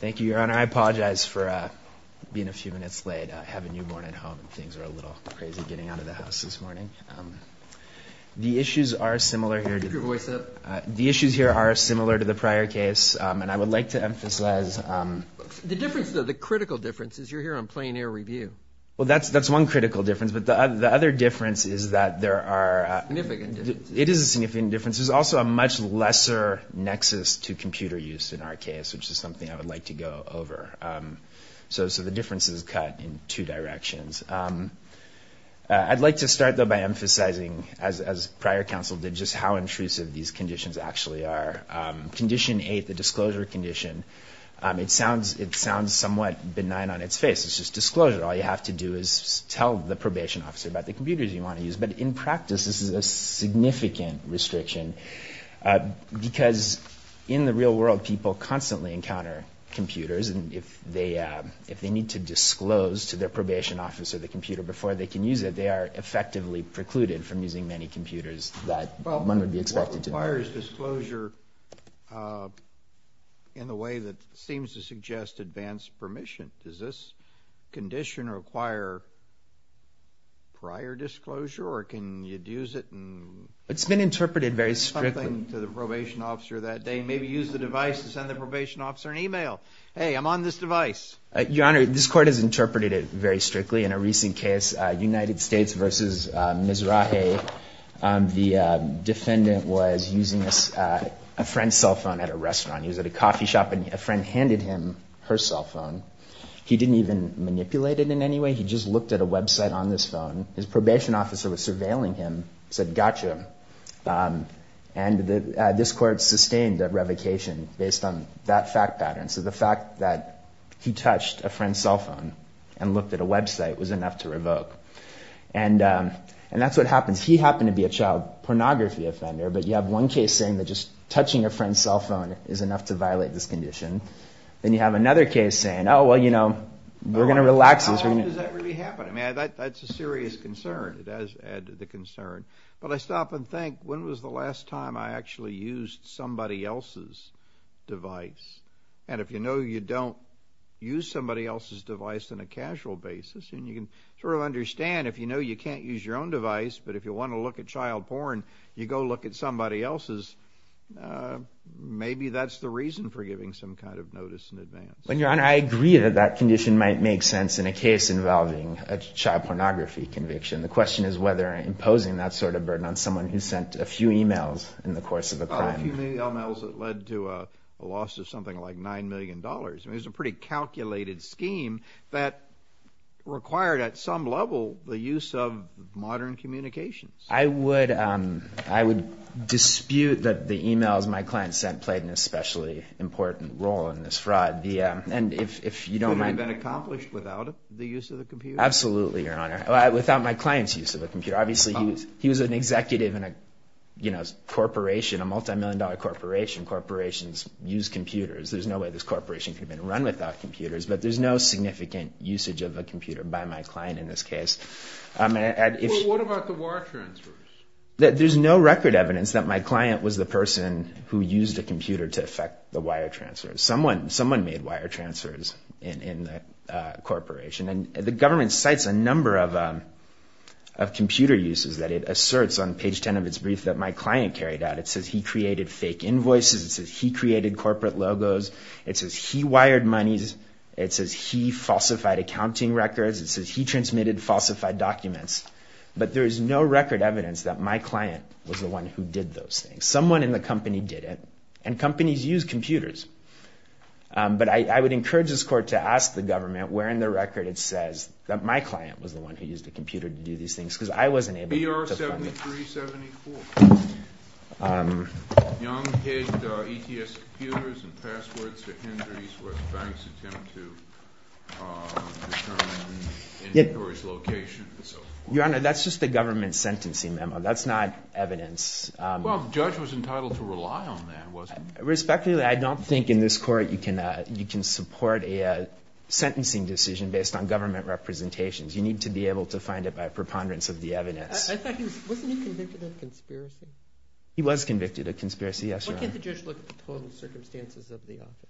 Thank you, Your Honor. I apologize for being a few minutes late. I have a newborn at home and things are a little crazy getting out of the house this morning. The issues are similar here. Keep your voice up. The issues here are similar to the prior case and I would like to emphasize. The difference, though, the critical difference is you're here on plain air review. Well, that's one critical difference, but the other difference is that there are, it is a significant difference. There's also a much lesser nexus to computer use in our case, which is something I would like to go over. So the difference is cut in two directions. I'd like to start, though, by emphasizing as prior counsel did just how intrusive these conditions actually are. Condition eight, the disclosure condition, it sounds somewhat benign on its face. It's just disclosure. All you have to do is tell the probation officer about the computers you want to use. But in practice, this is a significant restriction because in the real world, people constantly encounter computers and if they need to disclose to their probation officer the computer before they can use it, they are effectively precluded from using many computers that one would be expected to. Judge Goldberg Well, what requires disclosure in the way that seems to suggest advanced permission? Does this condition require prior disclosure or can you use it in... Justice Breyer It's been interpreted very strictly. Judge Goldberg ...something to the probation officer that day, maybe use the device to send the probation officer an email, hey, I'm on this device. Justice Breyer Your Honor, this Court has interpreted it very strictly. In a recent case, United States v. Mizrahi, the defendant was using a friend's cell phone at a restaurant. He was at a coffee shop and a friend handed him her cell phone. He didn't even manipulate it in any way. He just looked at a website on this phone. His probation officer was surveilling him, said, gotcha. And this Court sustained a revocation based on that fact pattern. So the fact that he touched a friend's cell phone and looked at a website was enough to revoke. And that's what happens. He happened to be a child pornography offender. But you have one case saying that just touching a friend's cell phone is enough to violate this condition. Then you have another case saying, oh, well, you know, we're going to relax this. Judge Goldberg How often does that really happen? I mean, that's a serious concern. It does add to the concern. But I stop and think, when was the last time I actually used somebody else's device? And if you know you don't use somebody else's device on a casual basis, and you can sort of understand if you know you can't use your own device, but if you want to look at child porn, you go look at somebody else's. Maybe that's the reason for giving some kind of notice in advance. Dr. Eric Lander When, Your Honor, I agree that that condition might make sense in a case involving a child pornography conviction. The question is whether imposing that sort of burden on someone who sent a few e-mails in the course of a crime. Judge Goldberg A few e-mails that led to a loss of something like $9 million. I mean, it was a pretty calculated scheme that required, at some level, the use of modern communications. Dr. Eric Lander I would dispute that the e-mails my client sent played an especially important role in this fraud. And if you don't mind... Judge Goldberg Would it have been accomplished without the use of the computer? Dr. Eric Lander Absolutely, Your Honor. Without my client's use of a computer. Obviously, he was an executive in a corporation, a multimillion-dollar corporation. Corporations use computers. There's no way this corporation could have been run without computers. But there's no significant usage of a computer by my client in this case. Judge Goldberg What about the wire transfers? Dr. Eric Lander There's no record evidence that my client was the person who used a computer to effect the wire transfers. Someone made wire transfers in the corporation. And the government cites a number of computer uses that it asserts on page 10 of its brief that my client carried out. It says he created fake invoices. It says he wired monies. It says he falsified accounting records. It says he transmitted falsified documents. But there is no record evidence that my client was the one who did those things. Someone in the company did it. And companies use computers. But I would encourage this Court to ask the government where in the record it says that my client was the one who used a computer to do these things. Because I wasn't able to find... Your Honor, that's just the government sentencing memo. That's not evidence. Respectfully, I don't think in this Court you can support a sentencing decision based on government representations. You need to be able to find it by preponderance of the evidence. Wasn't he convicted of a conspiracy? He was convicted of a conspiracy, yes, Your Honor. Why can't the judge look at the total circumstances of the offense?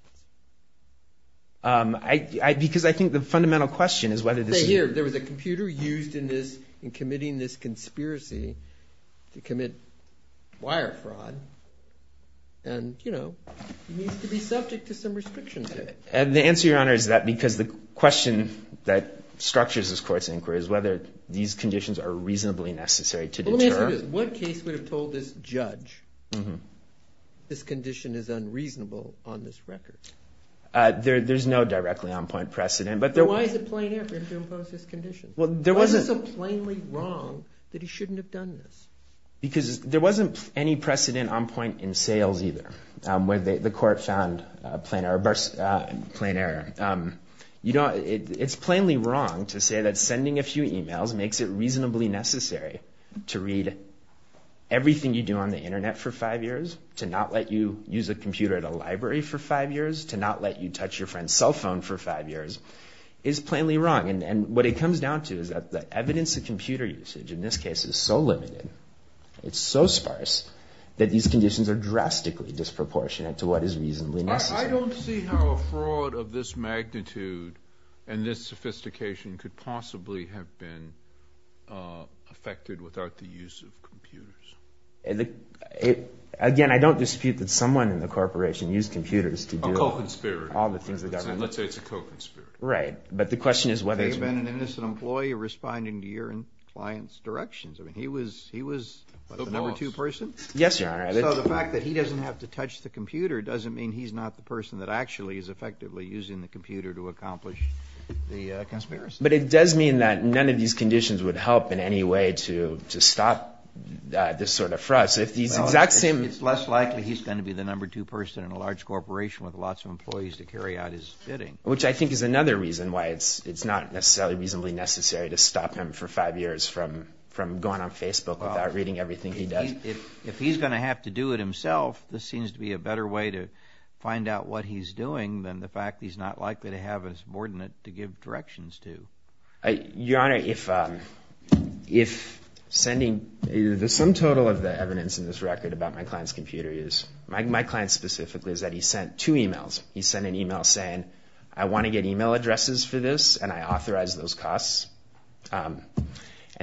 Because I think the fundamental question is whether this... Say here, there was a computer used in committing this conspiracy to commit wire fraud. And, you know, he needs to be subject to some restrictions there. And the answer, Your Honor, is that because the question that structures this Well, let me ask you this. What case would have told this judge this condition is unreasonable on this record? There's no directly on-point precedent. But why is it plain error to impose this condition? Why is it so plainly wrong that he shouldn't have done this? Because there wasn't any precedent on point in sales, either, where the Court found plain error. You know, it's plainly wrong to say that sending a few emails makes it reasonably necessary to read everything you do on the Internet for five years, to not let you use a computer at a library for five years, to not let you touch your friend's cell phone for five years. It's plainly wrong. And what it comes down to is that the evidence of computer usage in this case is so limited, it's so sparse, that these conditions are drastically disproportionate to what is reasonably necessary. I don't see how a fraud of this magnitude and this sophistication could possibly have been effected without the use of computers. Again, I don't dispute that someone in the corporation used computers to do all the things the government did. A co-conspirator. Let's say it's a co-conspirator. Right. But the question is whether it's a co-conspirator. There may have been an innocent employee responding to your client's directions. I mean, he was the number two person. Yes, Your Honor. So the fact that he doesn't have to touch the computer doesn't mean he's not the person that actually is effectively using the computer to accomplish the conspiracy. But it does mean that none of these conditions would help in any way to stop this sort of fraud. So if these exact same... Well, it's less likely he's going to be the number two person in a large corporation with lots of employees to carry out his bidding. Which I think is another reason why it's not necessarily reasonably necessary to stop him for five years from going on Facebook without reading everything he does. If he's going to have to do it himself, this seems to be a better way to find out what he's doing than the fact he's not likely to have a subordinate to give directions to. Your Honor, if sending... The sum total of the evidence in this record about my client's computer is... My client specifically is that he sent two emails. He sent an email saying, I want to get email addresses for this, and I authorize those costs. And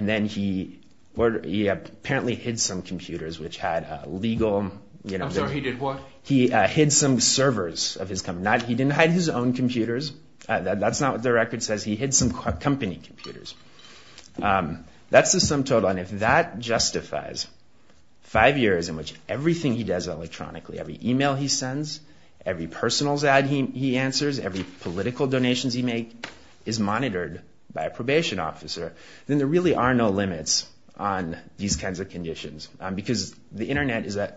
then he apparently hid some computers which had legal... I'm sorry, he did what? He hid some servers of his company. He didn't hide his own computers. That's not what the record says. He hid some company computers. That's the sum total. And if that justifies five years in which everything he does electronically, every email he sends, every personals ad he answers, every political donations he makes, is monitored by a probation officer, then there really are no limits on these kinds of conditions. Because the internet is a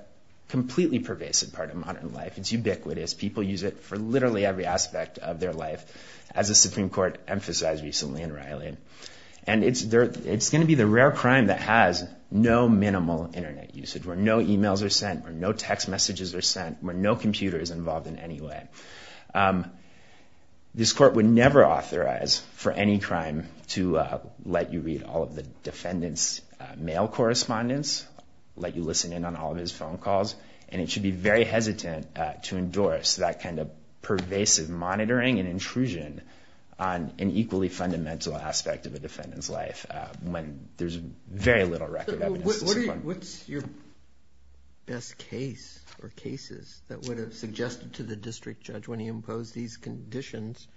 completely pervasive part of modern life. It's ubiquitous. People use it for literally every aspect of their life, as the Supreme Court emphasized recently in Riley. And it's going to be the rare crime that has no minimal internet usage, where no emails are sent, where no text messages are sent, where no computer is involved in any way. This court would never authorize for any crime to let you read all of the defendant's mail correspondence, let you listen in on all of his phone calls. And it should be very hesitant to endorse that kind of pervasive monitoring and intrusion on an equally fundamental aspect of a defendant's life, when there's very little record evidence. What's your best case or cases that would have suggested to the district judge when he imposed these conditions,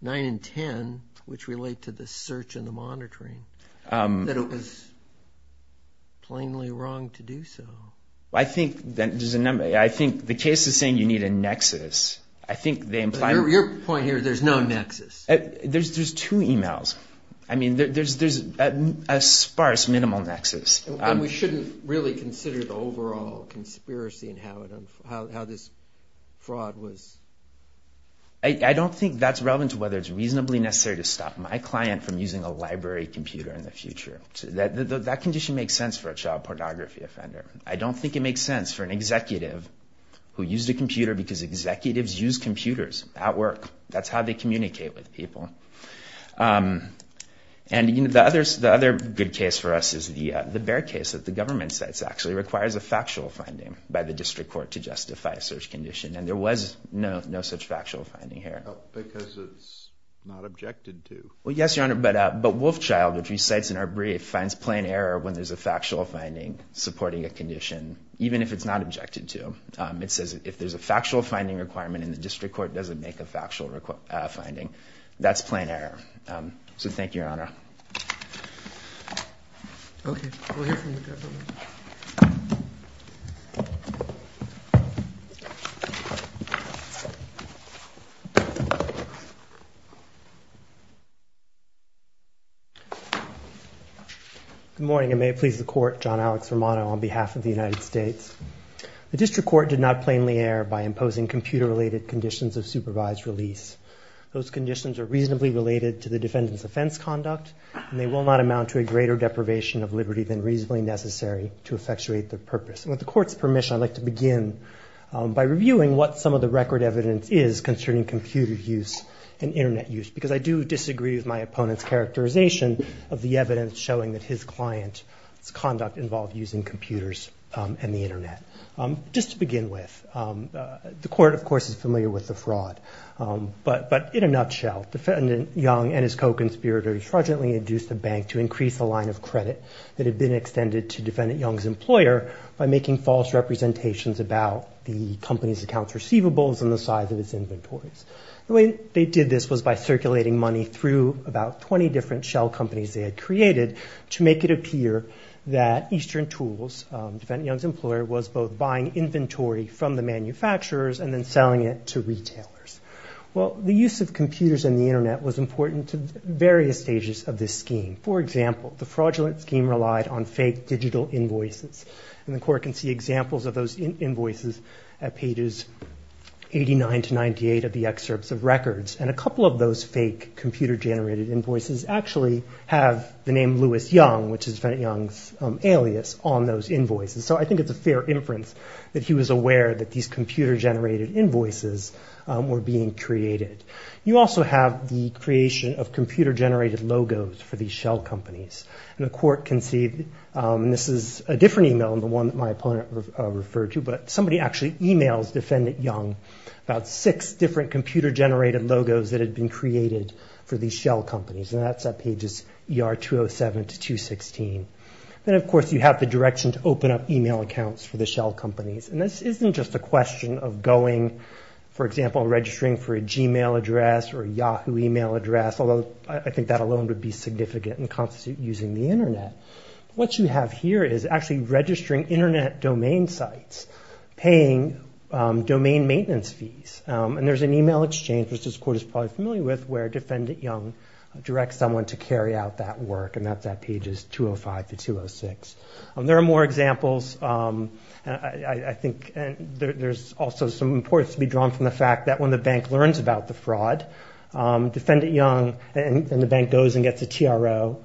nine and ten, which relate to the search and the monitoring, that it was plainly wrong to do so? I think the case is saying you need a nexus. Your point here, there's no nexus. There's two emails. I mean, there's a sparse minimal nexus. And we shouldn't really consider the overall conspiracy and how this fraud was. I don't think that's relevant to whether it's reasonably necessary to stop my client from using a library computer in the future. That condition makes sense for a child pornography offender. I don't think it makes sense for an executive who used a computer because executives use computers at work. That's how they communicate with people. And the other good case for us is the Bear case that the government says actually requires a factual finding by the district court to justify a search condition. And there was no such factual finding here. Because it's not objected to. Well, yes, Your Honor, but Wolfchild, which recites in our brief, finds plain error when there's a factual finding supporting a condition, even if it's not objected to. It says if there's a factual finding requirement and the district court doesn't make a factual finding, that's plain error. So thank you, Your Honor. Good morning, and may it please the court. John Alex Romano on behalf of the United States. The district court did not plainly err by imposing computer-related conditions of supervised release. Those conditions are reasonably related to the defendant's offense conduct, and they will not amount to a greater deprivation of liberty than reasonably necessary to effectuate their purpose. With the court's permission, I'd like to begin by reviewing what some of the record evidence is concerning computer use and Internet use, because I do disagree with my opponent's characterization of the evidence showing that his client's conduct involved using computers and the Internet. Just to begin with, the court, of course, is familiar with the fraud. But in a nutshell, Defendant Young and his co-conspirators fraudulently induced the bank to increase the line of credit that had been extended to Defendant Young's employer by making false representations about the company's accounts receivables and the size of its inventories. The way they did this was by circulating money through about 20 different shell companies they had created to make it appear that Eastern Tools, Defendant Manufacturers, and then selling it to retailers. Well, the use of computers and the Internet was important to various stages of this scheme. For example, the fraudulent scheme relied on fake digital invoices, and the court can see examples of those invoices at pages 89 to 98 of the excerpts of records. And a couple of those fake computer-generated invoices actually have the name Louis Young, which is Defendant Young's alias, on those invoices. So I think it's a fair inference that he was aware that these computer-generated invoices were being created. You also have the creation of computer-generated logos for these shell companies. And the court can see, and this is a different email than the one that my opponent referred to, but somebody actually emails Defendant Young about six different computer-generated logos that had been created for these shell companies, and that's at pages ER 207 to 216. Then, of course, you have the direction to open up email accounts for the shell companies. And this isn't just a question of going, for example, registering for a Gmail address or a Yahoo email address, although I think that alone would be significant and constitute using the Internet. What you have here is actually registering Internet domain sites, paying domain maintenance fees. And there's an email exchange, which this court is probably familiar with, where it's at pages 205 to 206. And there are more examples. I think there's also some importance to be drawn from the fact that when the bank learns about the fraud, Defendant Young, and the bank goes and gets a TRO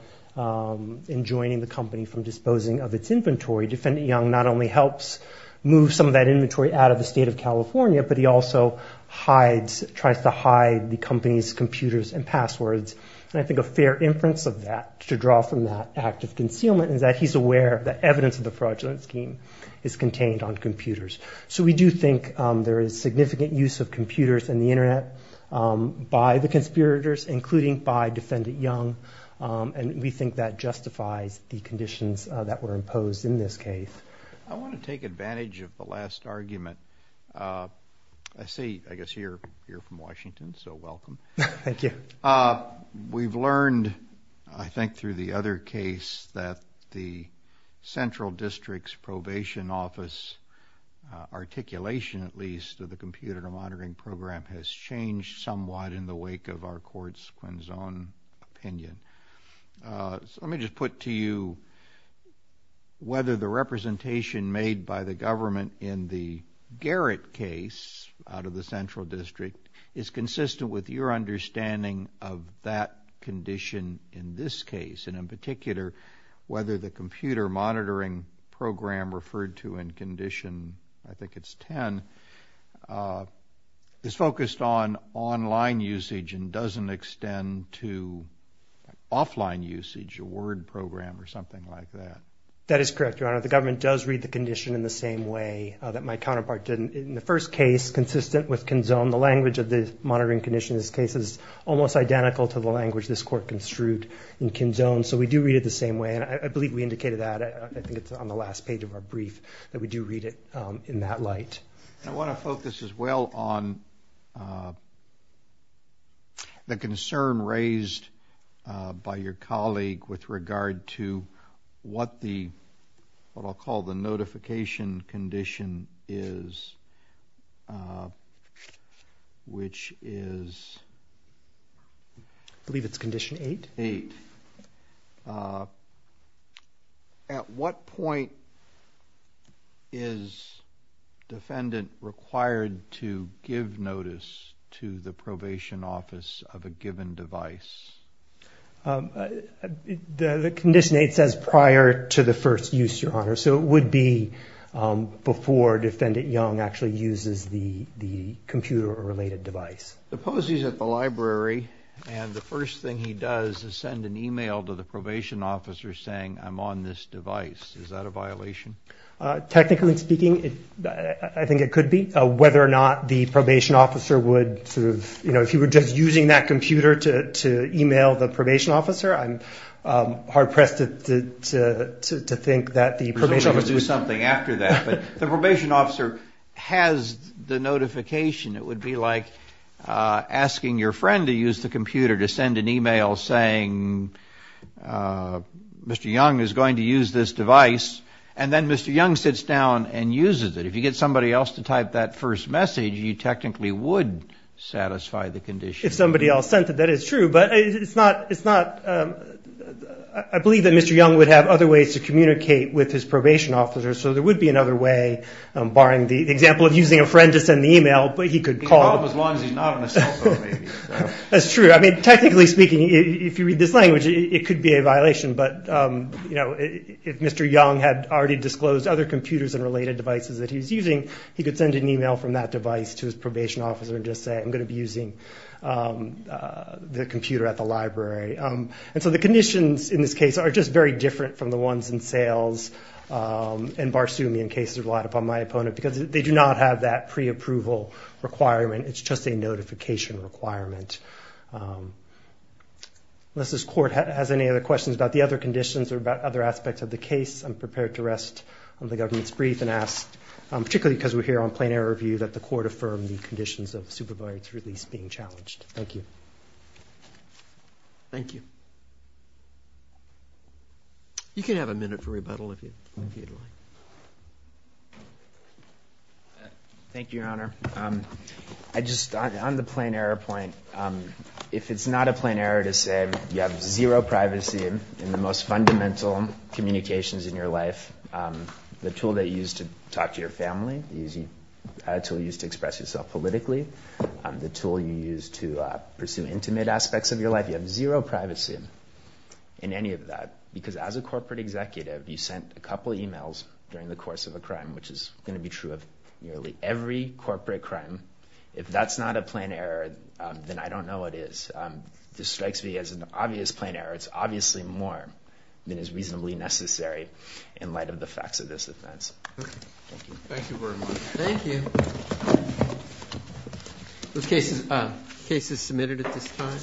in joining the company from disposing of its inventory, Defendant Young not only helps move some of that inventory out of the state of California, but he also hides, tries to hide, the company's computers and passwords. And I think a fair inference of that, to draw from that act of concealment, is that he's aware that evidence of the fraudulent scheme is contained on computers. So we do think there is significant use of computers and the Internet by the conspirators, including by Defendant Young. And we think that justifies the conditions that were imposed in this case. I want to take advantage of the last argument. I see, I guess, you're from Washington, so I think through the other case that the Central District's Probation Office articulation, at least, of the computer monitoring program has changed somewhat in the wake of our court's Quinzone opinion. Let me just put to you whether the representation made by the government in the Garrett case out of the Central District is consistent with your understanding of that condition in this case. And in particular, whether the computer monitoring program referred to in condition, I think it's 10, is focused on online usage and doesn't extend to offline usage, a word program or something like that. That is correct, Your Honor. The government does read the condition in the same way that my counterpart did in the first case, consistent with Quinzone. The language of the monitoring condition in this case is almost identical to the language this court construed in Quinzone. So we do read it the same way, and I believe we indicated that. I think it's on the last page of our brief that we do read it in that light. I want to focus as well on the concern raised by your colleague with regard to what the, what I'll call the notification condition is, which is that the government is not able to provide a notification to the probation office of a given device. At what point is defendant required to give notice to the probation office of a given device? The condition eight says prior to the first use, Your Honor. So it would be before defendant Young actually uses the computer-related device. The pose is at the library, and the first thing he does is send an e-mail to the probation officer saying, I'm on this device. Is that a violation? Technically speaking, I think it could be. Whether or not the probation officer would, if he were just using that computer to e-mail the probation officer, I'm hard-pressed to think that the probation officer would do something after that. But the probation officer has the notification. It would be like asking your friend to use the computer to send an e-mail saying, Mr. Young is going to use this device. And then Mr. Young sits down and uses it. If you get somebody else to type that first message, you technically would satisfy the condition. If somebody else sent it, that is true. I believe that Mr. Young would have other ways to communicate with his probation officer. So there would be another way, barring the example of using a friend to send the e-mail. That's true. Technically speaking, if you read this language, it could be a violation. But if Mr. Young had already disclosed other computers and related devices that he was using, he could send an e-mail from that device to his probation officer and just say, I'm going to be using the computer at the library. And so the conditions in this case are just very different from the ones in sales and Barsoomian cases relied upon by my opponent, because they do not have that pre-approval requirement. It's just a notification requirement. Unless this court has any other questions about the other conditions or about other aspects of the case, I'm prepared to rest on the government's brief and ask, particularly because we're here on plain error review, that the court affirm the conditions of the supervisor's release being challenged. Thank you. Thank you. You can have a minute for rebuttal if you'd like. Thank you, Your Honor. On the plain error point, if it's not a plain error to say you have zero privacy in the most fundamental communications in your life, the tool that you use to talk to your family, the tool you use to express yourself politically, the tool you use to pursue intimate aspects of your life, you have zero privacy in any of that, because as a corporate executive, you sent a couple of emails during the course of a crime, which is going to be true of nearly every corporate crime. If that's not a plain error, then I don't know what is. This strikes me as an obvious plain error. It's obviously more than is reasonably necessary in light of the facts of this offense. Thank you.